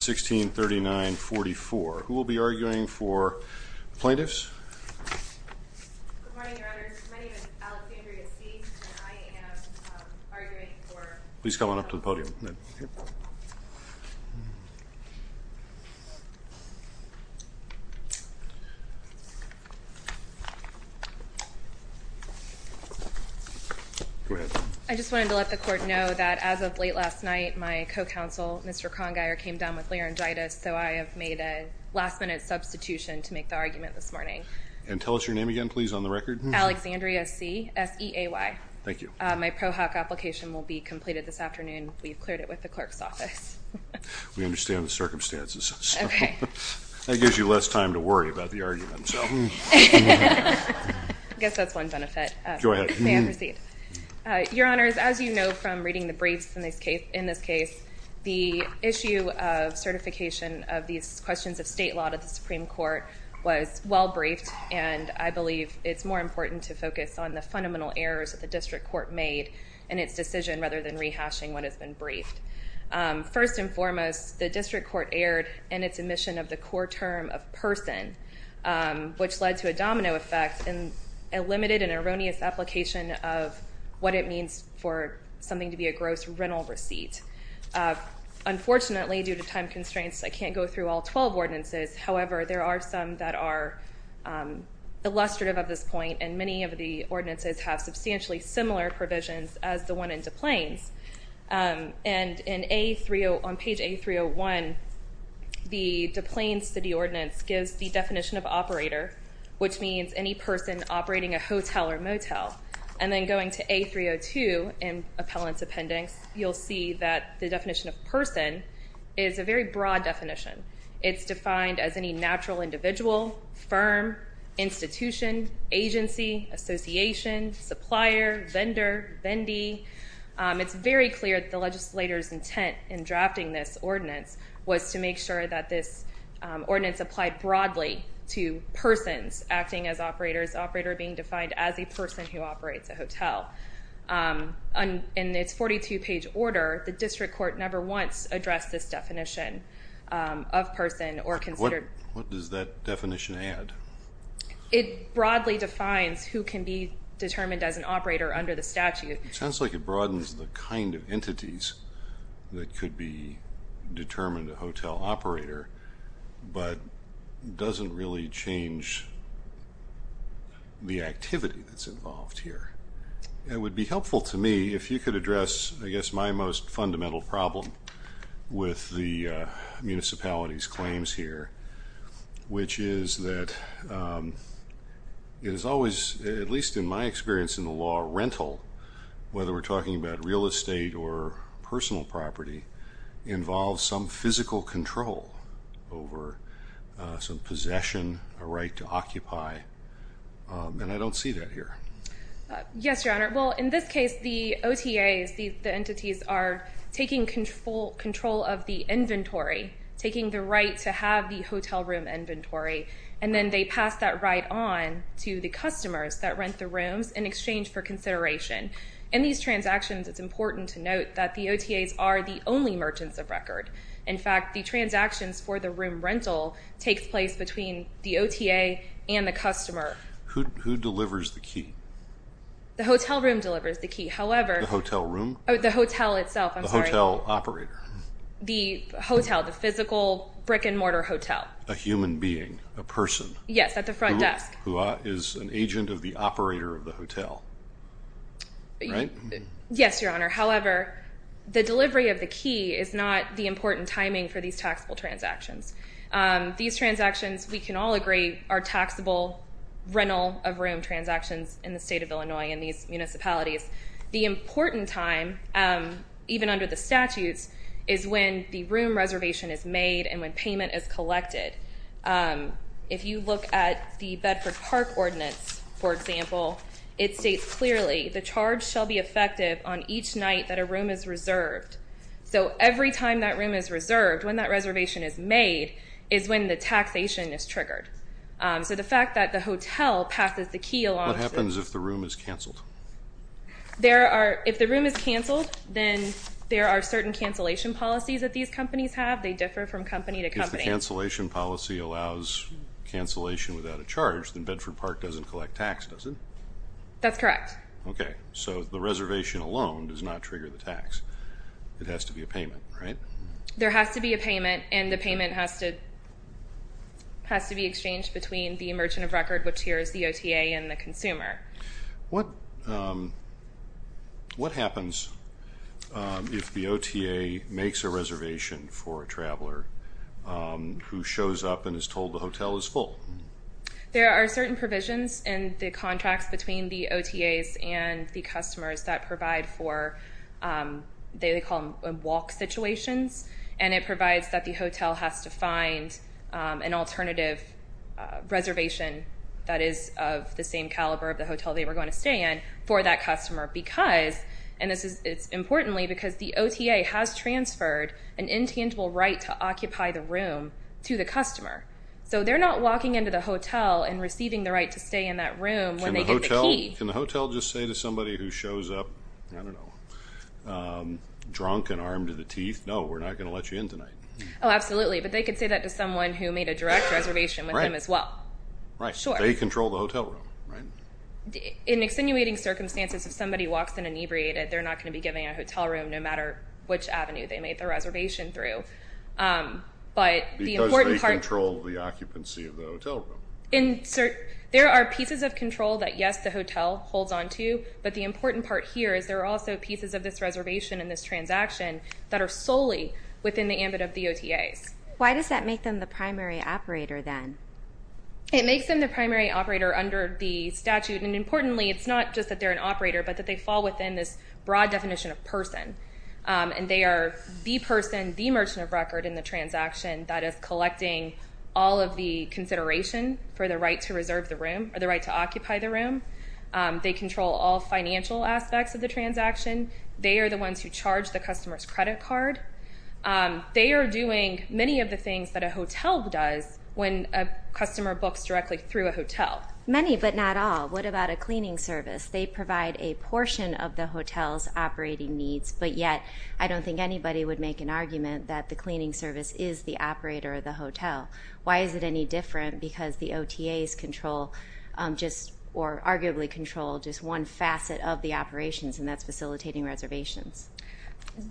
1639-44. Who will be arguing for plaintiffs? Good morning, Your Honor. My name is Alexandria C., and I am arguing for... Please come on up to the podium. I just wanted to let the court know that as of late last night, my co-counsel, Mr. Krongeier, came down with laryngitis, so I have made a last-minute substitution to make the argument this morning. And tell us your name again, please, on the record. Alexandria C., S-E-A-Y. Thank you. My pro hoc application will be completed this afternoon. We've cleared it with the clerk's office. We understand the circumstances. Okay. That gives you less time to worry about the argument. I guess that's one benefit. Go ahead. May I proceed? Your Honors, as you know from reading the briefs in this case, the issue of certification of these questions of state law to the Supreme Court was well-briefed, and I believe it's more important to decision rather than rehashing what has been briefed. First and foremost, the district court erred in its omission of the core term of person, which led to a domino effect and a limited and erroneous application of what it means for something to be a gross rental receipt. Unfortunately, due to time constraints, I can't go through all 12 ordinances. However, there are some that are illustrative of this point, and many of the ordinances have substantially similar provisions as the one in DuPlein's. And on page A301, the DuPlein City Ordinance gives the definition of operator, which means any person operating a hotel or motel. And then going to A302 in Appellant's Appendix, you'll see that the definition of person is a very broad definition. It's defined as any natural individual, firm, institution, agency, association, supplier, vendor, vendee. It's very clear that the legislator's intent in drafting this ordinance was to make sure that this ordinance applied broadly to persons acting as operators, operator being defined as a person who operates a hotel. In its 42-page order, the district court never once addressed this What does that definition add? It broadly defines who can be determined as an operator under the statute. It sounds like it broadens the kind of entities that could be determined a hotel operator, but doesn't really change the activity that's involved here. It would be helpful to me if you could address, I guess, my most here, which is that it is always, at least in my experience in the law, rental, whether we're talking about real estate or personal property, involves some physical control over some possession, a right to occupy. And I don't see that here. Yes, Your Honor. Well, in this case, the OTAs, the entities are taking control of the right to have the hotel room inventory, and then they pass that right on to the customers that rent the rooms in exchange for consideration. In these transactions, it's important to note that the OTAs are the only merchants of record. In fact, the transactions for the room rental takes place between the OTA and the customer. Who delivers the key? The hotel room delivers the key. The hotel room? The hotel itself, I'm sorry. The hotel operator? The hotel, the physical brick-and-mortar hotel. A human being, a person? Yes, at the front desk. Who is an agent of the operator of the hotel, right? Yes, Your Honor. However, the delivery of the key is not the important timing for these taxable transactions. These transactions, we can all agree, are taxable rental-of-room transactions in the State of Illinois in these municipalities. The important time, even under the statutes, is when the room reservation is made and when payment is collected. If you look at the Bedford Park Ordinance, for example, it states clearly, the charge shall be effective on each night that a room is reserved. So every time that room is reserved, when that reservation is made, is when the taxation is triggered. So the fact that the hotel passes the key along to the room. What happens if the room is canceled? If the room is canceled, then there are certain cancellation policies that these companies have. They differ from company to company. If the cancellation policy allows cancellation without a charge, then Bedford Park doesn't collect tax, does it? That's correct. Okay. So the reservation alone does not trigger the tax. It has to be a payment, right? There has to be a payment, and the payment has to be exchanged between the merchant of record, which here is the OTA, and the consumer. What happens if the OTA makes a reservation for a traveler who shows up and is told the hotel is full? There are certain provisions in the contracts between the OTAs and the customers that provide for what they call walk situations, and it is important because the OTA has transferred an intangible right to occupy the room to the customer. So they're not walking into the hotel and receiving the right to stay in that room when they get the key. Can the hotel just say to somebody who shows up, I don't know, drunk and armed to the teeth, no, we're not going to let you in tonight? Oh, absolutely. But they could say that to someone who made a direct reservation with them as well. Right. They control the hotel room, right? In extenuating circumstances, if somebody walks in inebriated, they're not going to be given a hotel room no matter which avenue they made the reservation through. Because they control the occupancy of the hotel room. There are pieces of control that, yes, the hotel holds onto, but the important part here is there are also pieces of this reservation and this transaction that are solely within the ambit of the OTAs. Why does that make them the primary operator then? It makes them the primary operator under the statute. And importantly, it's not just that they're an operator but that they fall within this broad definition of person. And they are the person, the merchant of record in the transaction that is collecting all of the consideration for the right to reserve the room or the right to occupy the room. They control all financial aspects of the transaction. They are the ones who charge the customer's credit card. They are doing many of the things that a hotel does when a customer books directly through a hotel. Many but not all. What about a cleaning service? They provide a portion of the hotel's operating needs, but yet I don't think anybody would make an argument that the cleaning service is the operator of the hotel. Why is it any different? Because the OTAs control or arguably control just one facet of the operations, and that's facilitating reservations.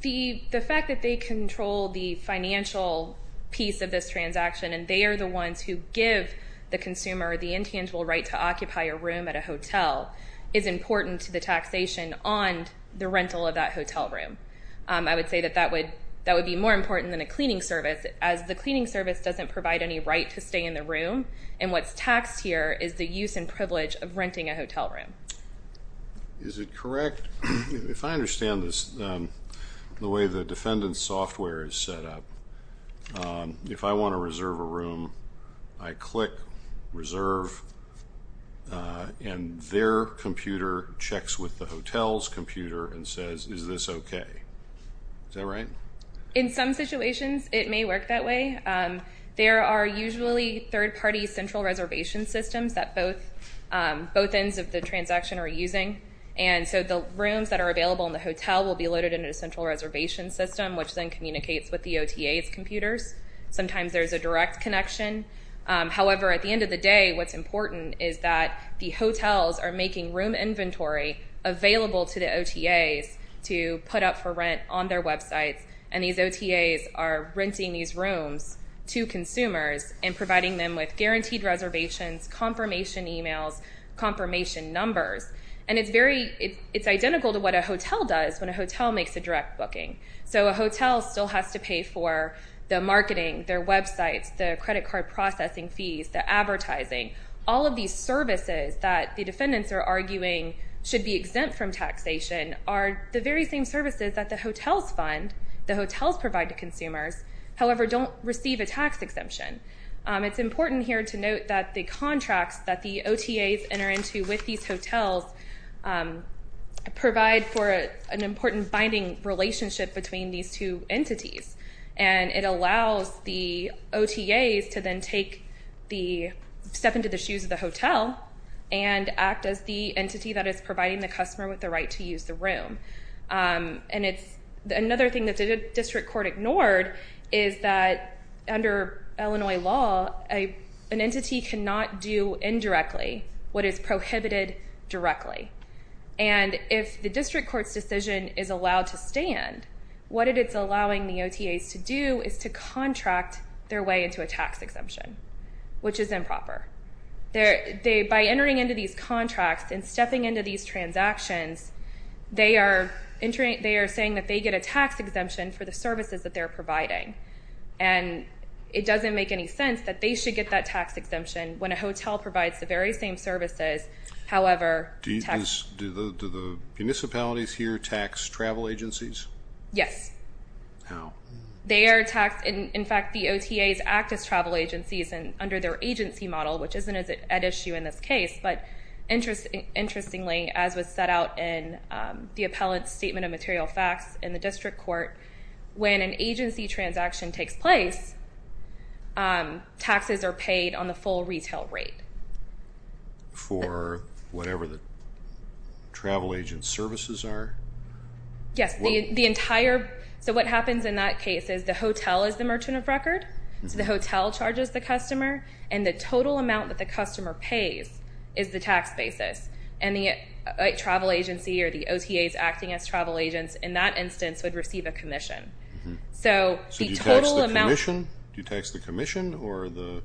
The fact that they control the financial piece of this transaction and they are the ones who give the consumer the intangible right to occupy a room at a hotel is important to the taxation on the rental of that hotel room. I would say that that would be more important than a cleaning service, as the cleaning service doesn't provide any right to stay in the room, and what's taxed here is the use and privilege of renting a hotel room. Is it correct? Correct. If I understand this, the way the defendant's software is set up, if I want to reserve a room, I click reserve, and their computer checks with the hotel's computer and says, is this okay? Is that right? In some situations, it may work that way. There are usually third-party central reservation systems that both ends of the transaction are using, and so the rooms that are available in the hotel will be loaded into a central reservation system, which then communicates with the OTA's computers. Sometimes there's a direct connection. However, at the end of the day, what's important is that the hotels are making room inventory available to the OTAs to put up for rent on their websites, and these OTAs are renting these rooms to consumers and providing them with And it's identical to what a hotel does when a hotel makes a direct booking. So a hotel still has to pay for the marketing, their websites, the credit card processing fees, the advertising. All of these services that the defendants are arguing should be exempt from taxation are the very same services that the hotels fund, the hotels provide to consumers, however, don't receive a tax exemption. It's important here to note that the contracts that the OTAs enter into with these hotels provide for an important binding relationship between these two entities, and it allows the OTAs to then take the step into the shoes of the hotel and act as the entity that is providing the customer with the right to use the room. And it's another thing that the district court ignored is that under Illinois law, an entity cannot do indirectly what is prohibited directly. And if the district court's decision is allowed to stand, what it is allowing the OTAs to do is to contract their way into a tax exemption, which is improper. By entering into these contracts and stepping into these transactions, they are saying that they get a tax exemption for the services that they're providing. And it makes sense that they should get that tax exemption when a hotel provides the very same services, however, tax. Do the municipalities here tax travel agencies? Yes. How? They are taxed. In fact, the OTAs act as travel agencies under their agency model, which isn't an issue in this case. But interestingly, as was set out in the appellant's statement of material facts in the district court, when an agency transaction takes place, taxes are paid on the full retail rate. For whatever the travel agent's services are? Yes. So what happens in that case is the hotel is the merchant of record, so the hotel charges the customer, and the total amount that the customer pays is the tax basis. And the travel agency or the OTAs acting as travel agents in that instance would receive a commission. So the total amount. So do you tax the commission or the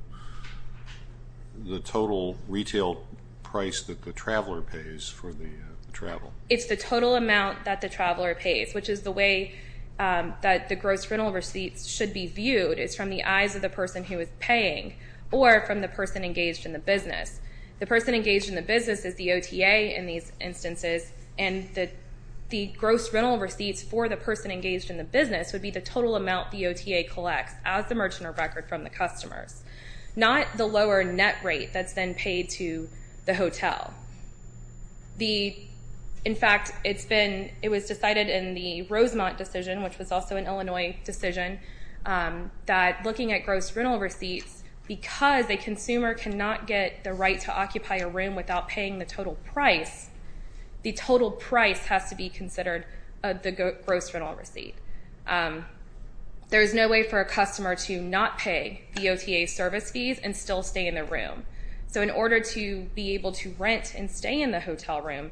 total retail price that the traveler pays for the travel? It's the total amount that the traveler pays, which is the way that the gross rental receipts should be viewed. It's from the eyes of the person who is paying or from the person engaged in the business. The person engaged in the business is the OTA in these instances, and the gross rental receipts for the person engaged in the business would be the total amount the OTA collects as the merchant of record from the customers, not the lower net rate that's then paid to the hotel. In fact, it was decided in the Rosemont decision, which was also an Illinois decision, that looking at gross rental receipts, because a consumer cannot get the right to occupy a room without paying the total price, the total price has to be considered the gross rental receipt. There is no way for a customer to not pay the OTA service fees and still stay in the room. So in order to be able to rent and stay in the hotel room,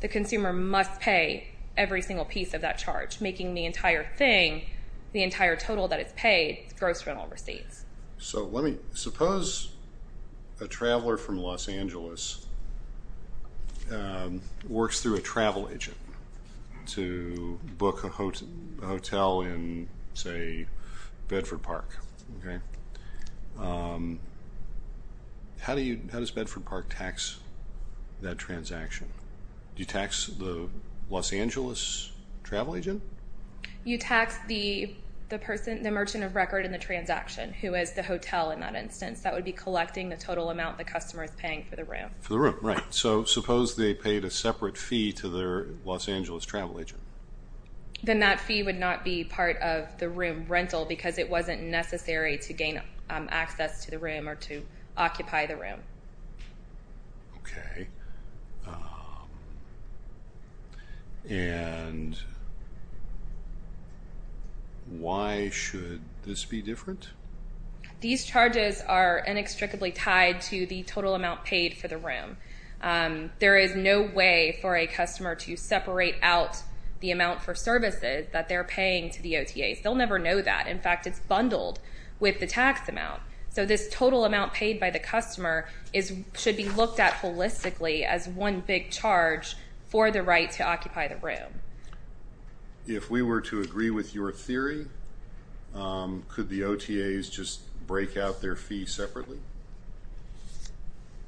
the consumer must pay every single piece of that charge, making the entire thing, the entire total that is paid, gross rental receipts. So suppose a traveler from Los Angeles works through a travel agent to book a hotel in, say, Bedford Park. How does Bedford Park tax that transaction? Do you tax the Los Angeles travel agent? You tax the merchant of record in the transaction, who is the hotel in that instance. That would be collecting the total amount the customer is paying for the room. For the room, right. So suppose they paid a separate fee to their Los Angeles travel agent. Then that fee would not be part of the room rental because it wasn't necessary to gain access to the room or to occupy the room. Okay. And why should this be different? These charges are inextricably tied to the total amount paid for the room. There is no way for a customer to separate out the amount for services that they're paying to the OTAs. They'll never know that. In fact, it's bundled with the tax amount. So this total amount paid by the customer should be looked at holistically as one big charge for the right to occupy the room. If we were to agree with your theory, could the OTAs just break out their fee separately?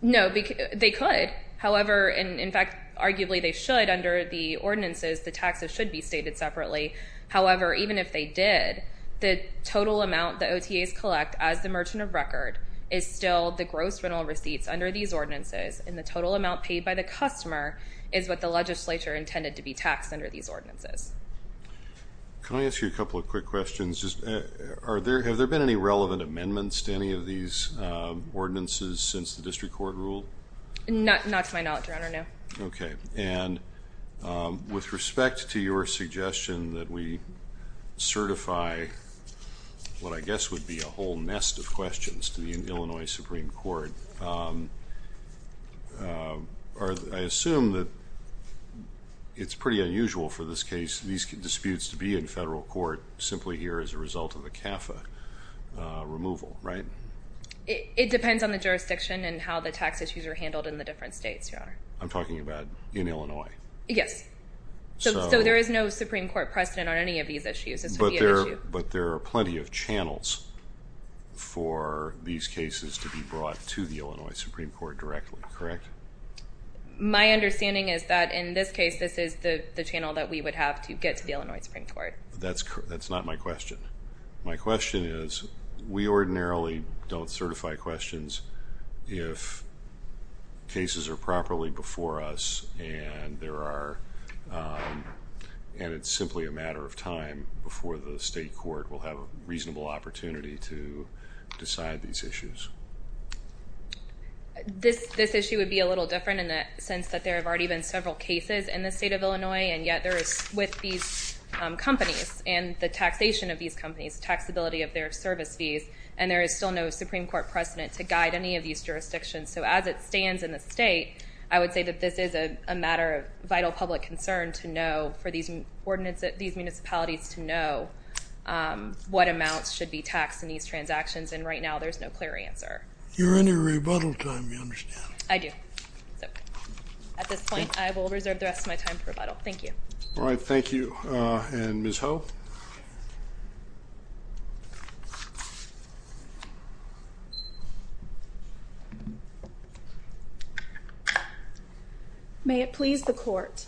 No. They could. However, in fact, arguably they should. Under the ordinances, the taxes should be stated separately. However, even if they did, the total amount the OTAs collect as the merchant of record is still the gross rental receipts under these ordinances, and the total amount paid by the customer is what the legislature intended to be taxed under these ordinances. Can I ask you a couple of quick questions? Have there been any relevant amendments to any of these ordinances since the district court ruled? Not to my knowledge, Your Honor, no. Okay. And with respect to your suggestion that we certify what I guess would be a whole nest of questions to the Illinois Supreme Court, I assume that it's pretty unusual for this case, these disputes to be in federal court simply here as a result of a CAFA removal, right? It depends on the jurisdiction and how the tax issues are handled in the different states, Your Honor. I'm talking about in Illinois. Yes. So there is no Supreme Court precedent on any of these issues. But there are plenty of channels for these cases to be brought to the Illinois Supreme Court directly, correct? My understanding is that in this case, this is the channel that we would have to get to the Illinois Supreme Court. That's not my question. My question is we ordinarily don't certify questions if cases are properly before us and it's simply a matter of time before the state court will have a reasonable opportunity to decide these issues. This issue would be a little different in the sense that there have already been several cases in the state of Illinois, and yet with these companies and the taxation of these companies, taxability of their service fees, and there is still no Supreme Court precedent to guide any of these jurisdictions. So as it stands in the state, I would say that this is a matter of vital public concern to know for these municipalities to know what amounts should be taxed in these transactions, and right now there's no clear answer. You're in your rebuttal time, you understand. I do. At this point, I will reserve the rest of my time for rebuttal. Thank you. All right. Thank you. And Ms. Ho? May it please the court.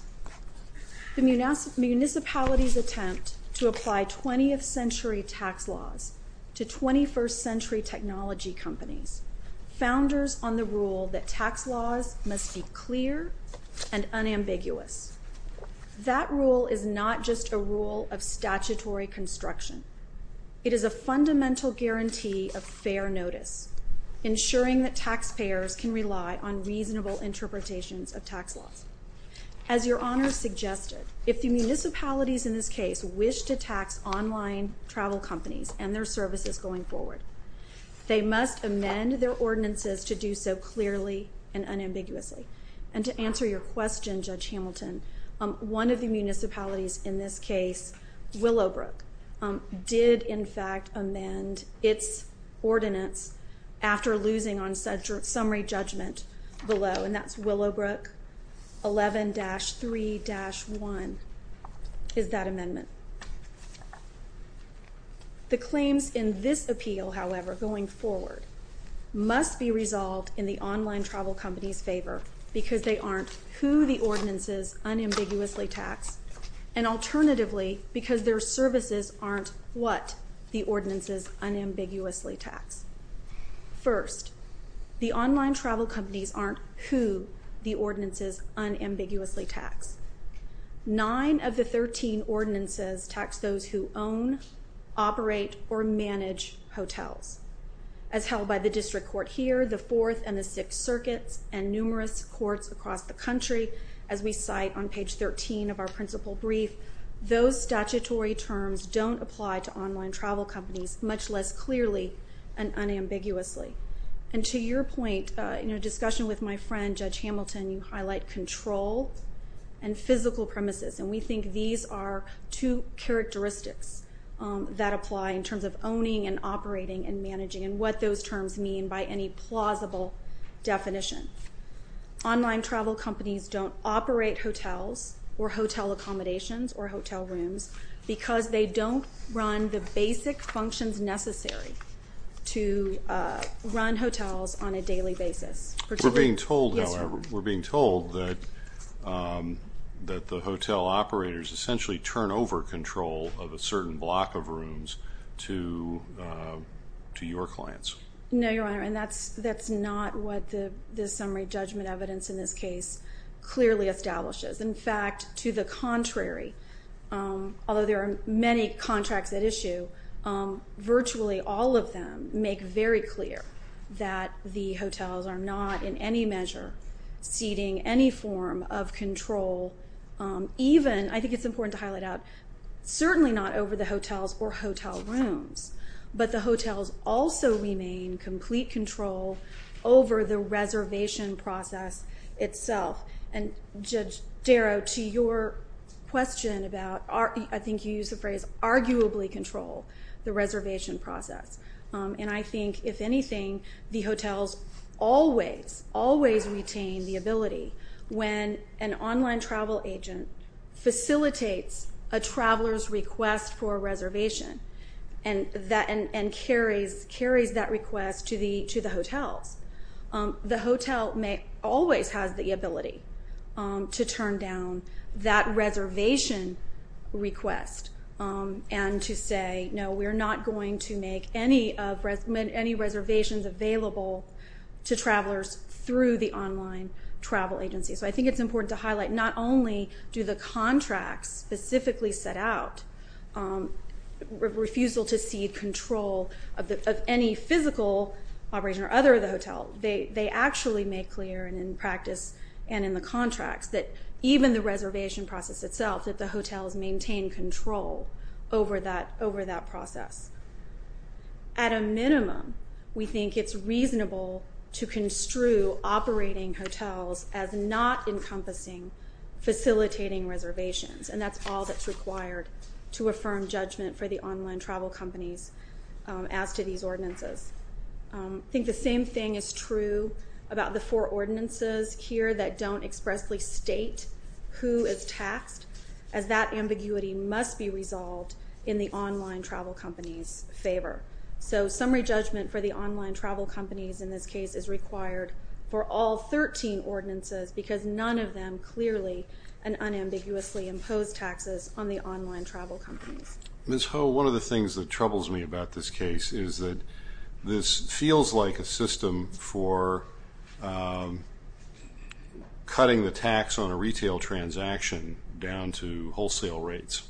The municipalities attempt to apply 20th century tax laws to 21st century technology companies, founders on the rule that tax laws must be clear and unambiguous. That rule is not just a rule of statutory construction. It is a fundamental guarantee of fair notice, ensuring that taxpayers can rely on reasonable interpretations of tax laws. As Your Honor suggested, if the municipalities in this case wish to tax online travel companies and their services going forward, they must amend their ordinances to do so clearly and unambiguously. And to answer your question, Judge Hamilton, one of the municipalities in this case, Willowbrook, did in fact amend its ordinance after losing on summary judgment below, and that's Willowbrook 11-3-1 is that amendment. The claims in this appeal, however, going forward, must be resolved in the online travel companies' favor because they aren't who the ordinances unambiguously tax, and alternatively, because their services aren't what the ordinances unambiguously tax. First, the online travel companies aren't who the ordinances unambiguously tax. Nine of the 13 ordinances tax those who own, operate, or manage hotels. As held by the district court here, the Fourth and the Sixth Circuits, and numerous courts across the country, as we cite on page 13 of our principal brief, those statutory terms don't apply to online travel companies, much less clearly and unambiguously. And to your point, in a discussion with my friend, Judge Hamilton, you highlight control and physical premises, and we think these are two characteristics that apply in terms of owning and operating and managing and what those terms mean by any plausible definition. Online travel companies don't operate hotels or hotel accommodations or hotel rooms because they don't run the basic functions necessary to run hotels on a daily basis. We're being told, however, we're being told that the hotel operators essentially turn over control of a certain block of rooms to your clients. No, Your Honor, and that's not what the summary judgment evidence in this case clearly establishes. In fact, to the contrary, although there are many contracts at issue, virtually all of them make very clear that the hotels are not in any measure ceding any form of control, even, I think it's important to highlight out, certainly not over the hotels or hotel rooms, but the hotels also remain complete control over the reservation process itself. And, Judge Darrow, to your question about, I think you used the phrase, arguably control the reservation process. And I think, if anything, the hotels always, always retain the ability when an online travel agent facilitates a traveler's request for a reservation and carries that request to the hotels. The hotel always has the ability to turn down that reservation request and to say, no, we're not going to make any reservations available to travelers through the online travel agency. So I think it's important to highlight, not only do the contracts specifically set out refusal to cede control of any physical operation or other of the hotel, they actually make clear in practice and in the contracts that even the reservation process itself, that the hotels maintain control over that process. At a minimum, we think it's reasonable to construe operating hotels as not encompassing facilitating reservations, and that's all that's required to affirm judgment for the online travel companies as to these ordinances. I think the same thing is true about the four ordinances here that don't expressly state who is taxed, as that ambiguity must be resolved in the online travel company's favor. So summary judgment for the online travel companies in this case is required for all 13 ordinances because none of them clearly and unambiguously impose taxes on the online travel companies. Ms. Ho, one of the things that troubles me about this case is that this feels like a system for cutting the tax on a retail transaction down to wholesale rates,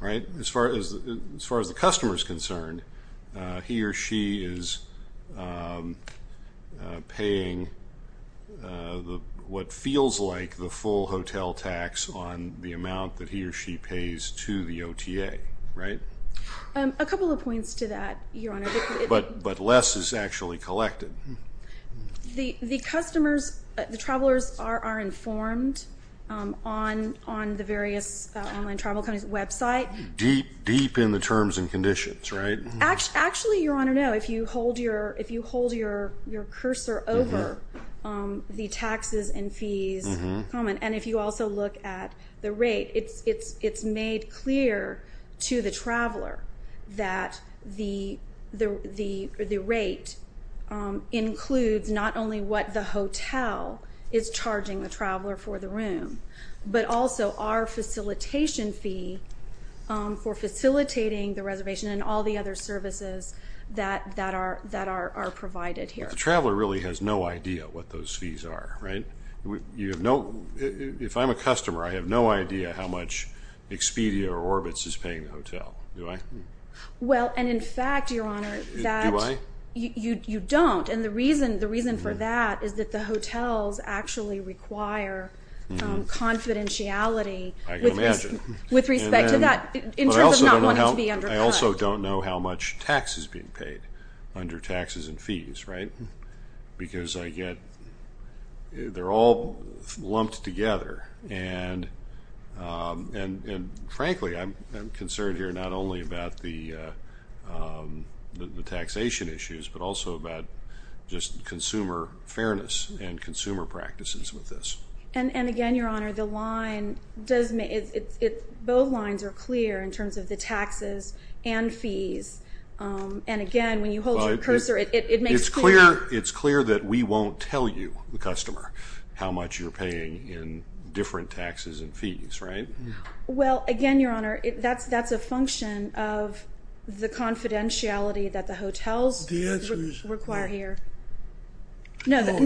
right? As far as the customer is concerned, he or she is paying what feels like the full hotel tax on the amount that he or she pays to the OTA, right? A couple of points to that, Your Honor. But less is actually collected. The customers, the travelers are informed on the various online travel companies' website. Deep, deep in the terms and conditions, right? Actually, Your Honor, no. If you hold your cursor over the taxes and fees comment, and if you also look at the rate, it's made clear to the traveler that the rate includes not only what the hotel is charging the traveler for the room, but also our facilitation fee for facilitating the reservation and all the other services that are provided here. The traveler really has no idea what those fees are, right? If I'm a customer, I have no idea how much Expedia or Orbitz is paying the hotel, do I? Well, and in fact, Your Honor, you don't. And the reason for that is that the hotels actually require confidentiality with respect to that in terms of not wanting to be undercut. I also don't know how much tax is being paid under taxes and fees, right? Because I get they're all lumped together. And, frankly, I'm concerned here not only about the taxation issues, but also about just consumer fairness and consumer practices with this. And, again, Your Honor, both lines are clear in terms of the taxes and fees. And, again, when you hold your cursor, it makes clear. It's clear that we won't tell you, the customer, how much you're paying in different taxes and fees, right? Well, again, Your Honor, that's a function of the confidentiality that the hotels require here. No, Your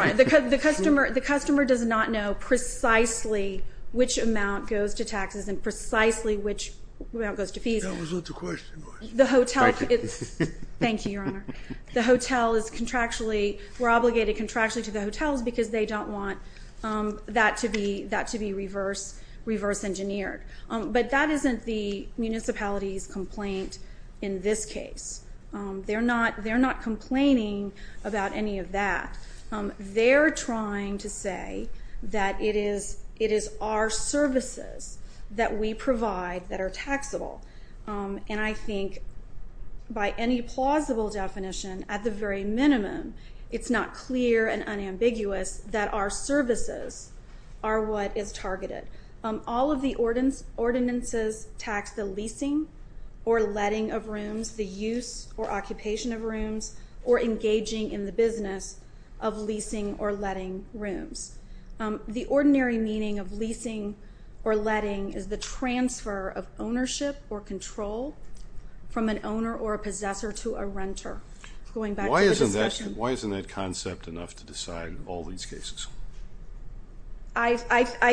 Honor, the customer does not know precisely which amount goes to taxes and precisely which amount goes to fees. That was what the question was. Thank you. Thank you, Your Honor. The hotel is contractually, we're obligated contractually to the hotels because they don't want that to be reverse engineered. But that isn't the municipality's complaint in this case. They're not complaining about any of that. They're trying to say that it is our services that we provide that are taxable. And I think by any plausible definition, at the very minimum, it's not clear and unambiguous that our services are what is targeted. All of the ordinances tax the leasing or letting of rooms, the use or occupation of rooms, or engaging in the business of leasing or letting rooms. The ordinary meaning of leasing or letting is the transfer of ownership or control from an owner or a possessor to a renter. Going back to the discussion. Why isn't that concept enough to decide all these cases? I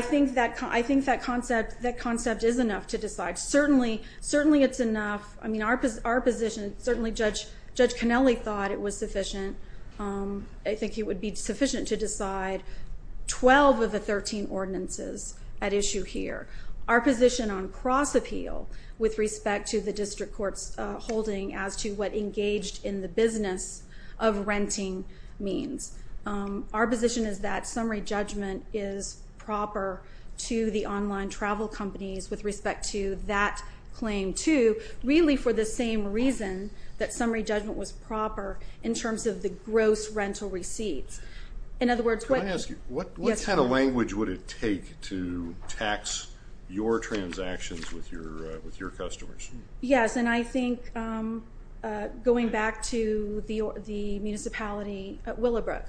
think that concept is enough to decide. Certainly, it's enough. I mean, our position, certainly Judge Cannelli thought it was sufficient. I think it would be sufficient to decide 12 of the 13 ordinances at issue here. Our position on cross appeal with respect to the district court's holding as to what engaged in the business of renting means. Our position is that summary judgment is proper to the online travel companies with respect to that claim, too, really for the same reason that summary judgment was proper in terms of the gross rental receipts. In other words, what kind of language would it take to tax your transactions with your customers? Yes, and I think going back to the municipality at Willowbrook,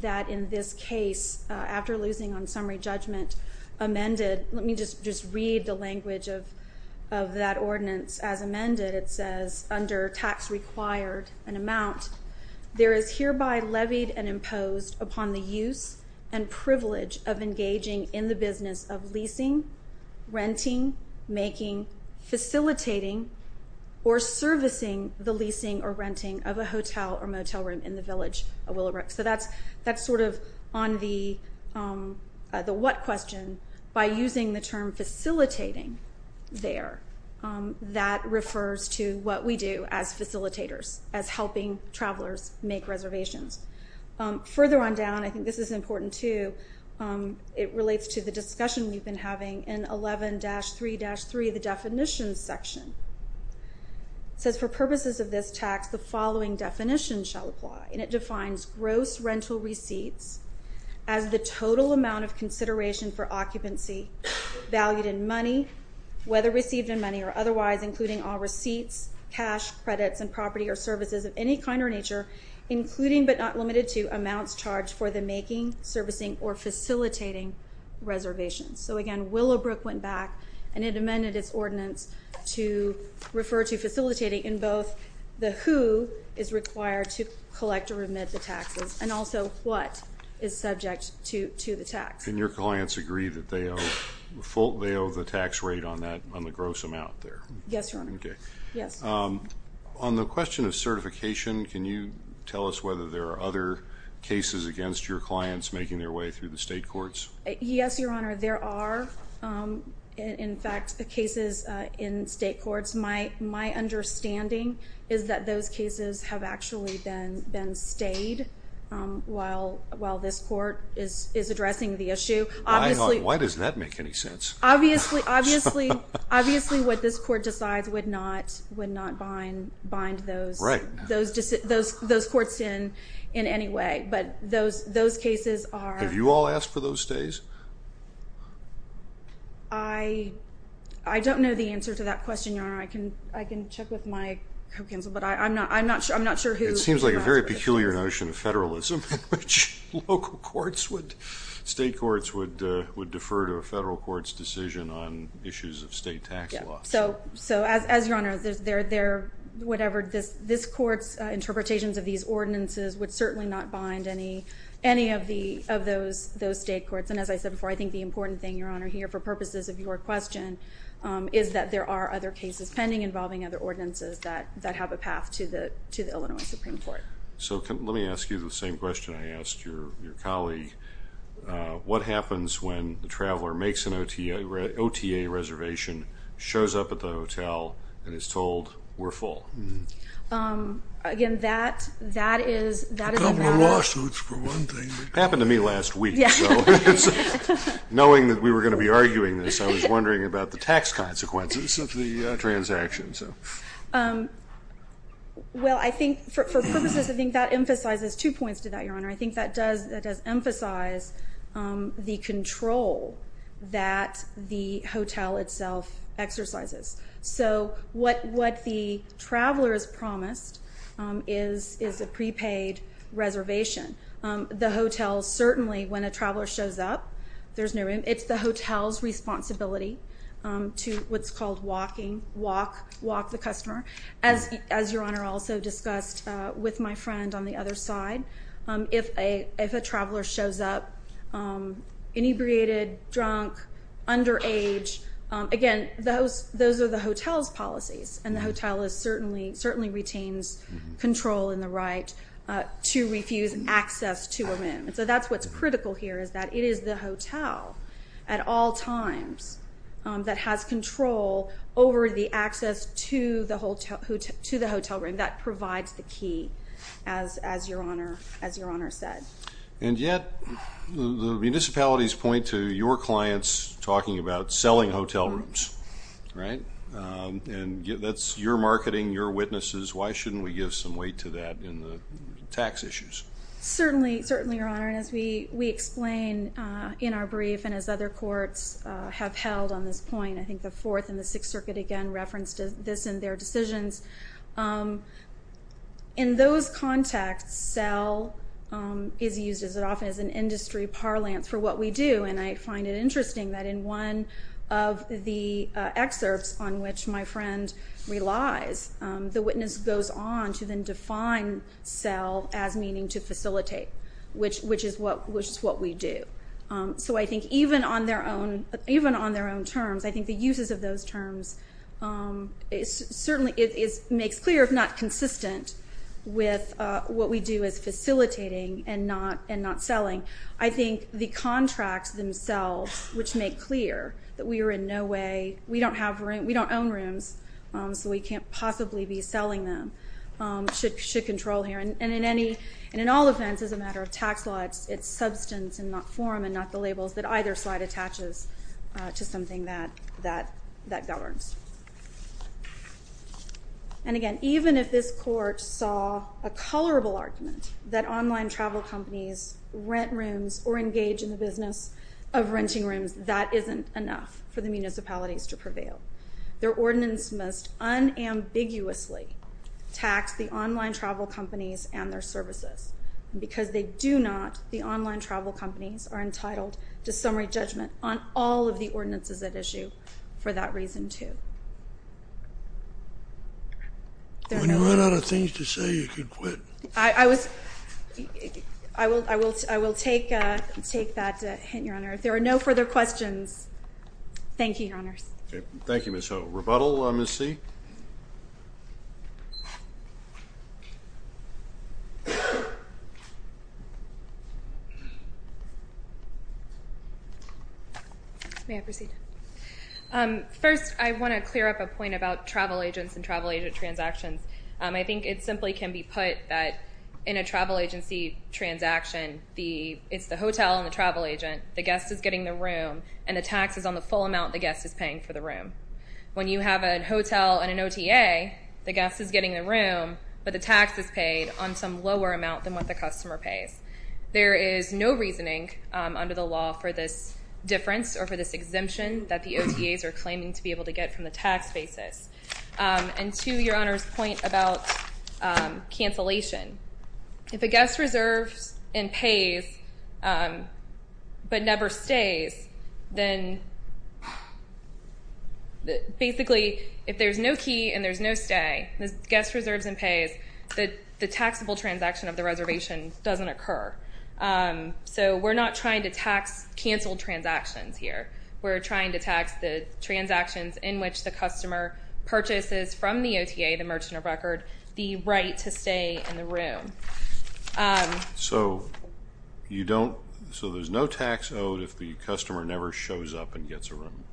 that in this case, after losing on summary judgment amended, let me just read the language of that ordinance as amended. It says, under tax required and amount, there is hereby levied and imposed upon the use and privilege of engaging in the business of leasing, renting, making, facilitating, or servicing the leasing or renting of a hotel or motel room in the village of Willowbrook. So that's sort of on the what question. By using the term facilitating there, that refers to what we do as facilitators, as helping travelers make reservations. Further on down, I think this is important, too. It relates to the discussion we've been having in 11-3-3, the definitions section. It says, for purposes of this tax, the following definition shall apply, and it defines gross rental receipts as the total amount of consideration for occupancy valued in money, whether received in money or otherwise, including all receipts, cash, credits, and property or services of any kind or nature, including but not limited to amounts charged for the making, servicing, or facilitating reservations. So, again, Willowbrook went back and it amended its ordinance to refer to facilitating in both the who is required to collect or remit the taxes and also what is subject to the tax. And your clients agree that they owe the tax rate on the gross amount there? Yes, Your Honor. Okay. Yes. On the question of certification, can you tell us whether there are other cases against your clients making their way through the state courts? Yes, Your Honor. There are, in fact, cases in state courts. My understanding is that those cases have actually been stayed while this court is addressing the issue. Why does that make any sense? Obviously, what this court decides would not bind those courts in any way, but those cases are. Have you all asked for those stays? I don't know the answer to that question, Your Honor. I can check with my co-counsel, but I'm not sure who. It seems like a very peculiar notion of federalism in which state courts would defer to a federal court's decision on issues of state tax law. So, as Your Honor, this court's interpretations of these ordinances would certainly not bind any of those state courts. And as I said before, I think the important thing, Your Honor, here for purposes of your question, is that there are other cases pending involving other ordinances that have a path to the Illinois Supreme Court. So, let me ask you the same question I asked your colleague. What happens when the traveler makes an OTA reservation, shows up at the hotel, and is told, we're full? Again, that is a valid question. A couple of lawsuits for one thing. Happened to me last week. Yes. Knowing that we were going to be arguing this, I was wondering about the tax consequences of the transaction. Well, I think for purposes, I think that emphasizes two points to that, Your Honor. I think that does emphasize the control that the hotel itself exercises. So, what the traveler is promised is a prepaid reservation. The hotel certainly, when a traveler shows up, there's no room. It's the hotel's responsibility to what's called walk the customer. As Your Honor also discussed with my friend on the other side, if a traveler shows up inebriated, drunk, underage, again, those are the hotel's policies. And the hotel certainly retains control in the right to refuse access to a room. So, that's what's critical here is that it is the hotel at all times that has control over the access to the hotel room. That provides the key, as Your Honor said. And yet, the municipalities point to your clients talking about selling hotel rooms, right? And that's your marketing, your witnesses. Why shouldn't we give some weight to that in the tax issues? Certainly, Your Honor. And as we explain in our brief and as other courts have held on this point, I think the Fourth and the Sixth Circuit, again, referenced this in their decisions. In those contexts, sell is used as often as an industry parlance for what we do. And I find it interesting that in one of the excerpts on which my friend relies, the witness goes on to then define sell as meaning to facilitate, which is what we do. So, I think even on their own terms, I think the uses of those terms certainly makes clear, if not consistent with what we do as facilitating and not selling. I think the contracts themselves, which make clear that we are in no way, we don't own rooms, so we can't possibly be selling them, should control here. And in all events, as a matter of tax law, it's substance and not form and not the labels that either side attaches to something that governs. And again, even if this court saw a colorable argument that online travel companies rent rooms or engage in the business of renting rooms, that isn't enough for the municipalities to prevail. Their ordinance must unambiguously tax the online travel companies and their services. And because they do not, the online travel companies are entitled to summary judgment on all of the ordinances at issue for that reason, too. When you run out of things to say, you can quit. I will take that hint, Your Honor. If there are no further questions, thank you, Your Honors. Thank you, Ms. Ho. Rebuttal, Ms. C? May I proceed? First, I want to clear up a point about travel agents and travel agent transactions. I think it simply can be put that in a travel agency transaction, it's the hotel and the travel agent. The guest is getting the room, and the tax is on the full amount the guest is paying for the room. When you have a hotel and an OTA, the guest is getting the room, but the tax is paid on some lower amount than what the customer pays. There is no reasoning under the law for this difference or for this exemption that the OTAs are claiming to be able to get from the tax basis. And to Your Honor's point about cancellation, if a guest reserves and pays but never stays, then basically if there's no key and there's no stay, the guest reserves and pays, the taxable transaction of the reservation doesn't occur. So we're not trying to tax canceled transactions here. We're trying to tax the transactions in which the customer purchases from the OTA, the merchant of record, the right to stay in the room. So there's no tax owed if the customer never shows up and gets a room?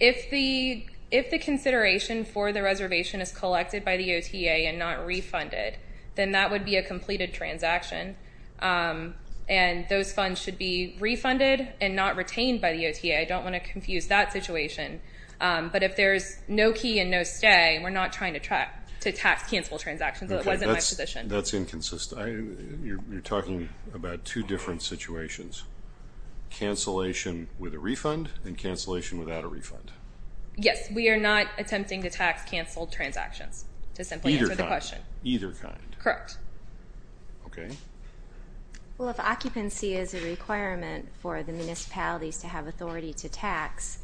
If the consideration for the reservation is collected by the OTA and not refunded, then that would be a completed transaction. And those funds should be refunded and not retained by the OTA. I don't want to confuse that situation. But if there's no key and no stay, we're not trying to tax canceled transactions. That wasn't my position. That's inconsistent. You're talking about two different situations, cancellation with a refund and cancellation without a refund. Yes. We are not attempting to tax canceled transactions to simply answer the question. Either kind. Either kind. Correct. Okay. Well, if occupancy is a requirement for the municipalities to have authority to tax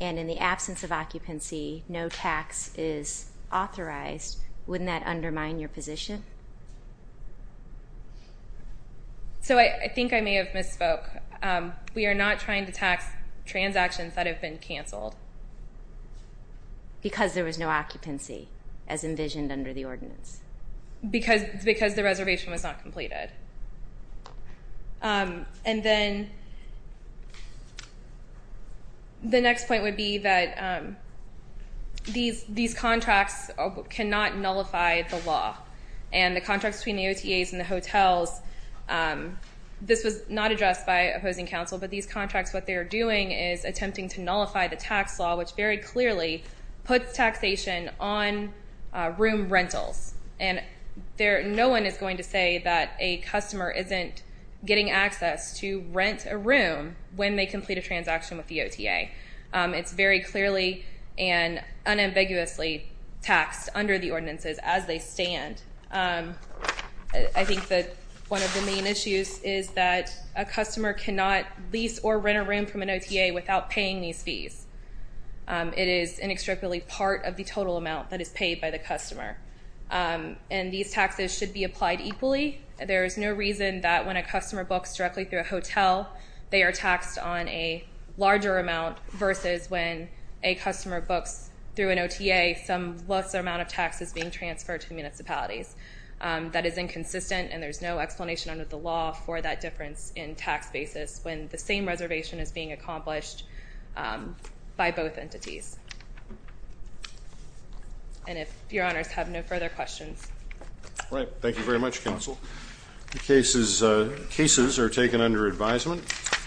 and in the absence of occupancy no tax is authorized, wouldn't that undermine your position? So I think I may have misspoke. We are not trying to tax transactions that have been canceled. Because the reservation was not completed. And then the next point would be that these contracts cannot nullify the law. And the contracts between the OTAs and the hotels, this was not addressed by opposing counsel, but these contracts, what they are doing is attempting to nullify the tax law, which very clearly puts taxation on room rentals. And no one is going to say that a customer isn't getting access to rent a room when they complete a transaction with the OTA. It's very clearly and unambiguously taxed under the ordinances as they stand. I think that one of the main issues is that a customer cannot lease or rent a room from an OTA without paying these fees. It is inextricably part of the total amount that is paid by the customer. And these taxes should be applied equally. There is no reason that when a customer books directly through a hotel, they are taxed on a larger amount versus when a customer books through an OTA, some lesser amount of tax is being transferred to the municipalities. That is inconsistent and there is no explanation under the law for that difference in tax basis when the same reservation is being accomplished by both entities. And if Your Honors have no further questions. Thank you very much, Counsel. The cases are taken under advisement.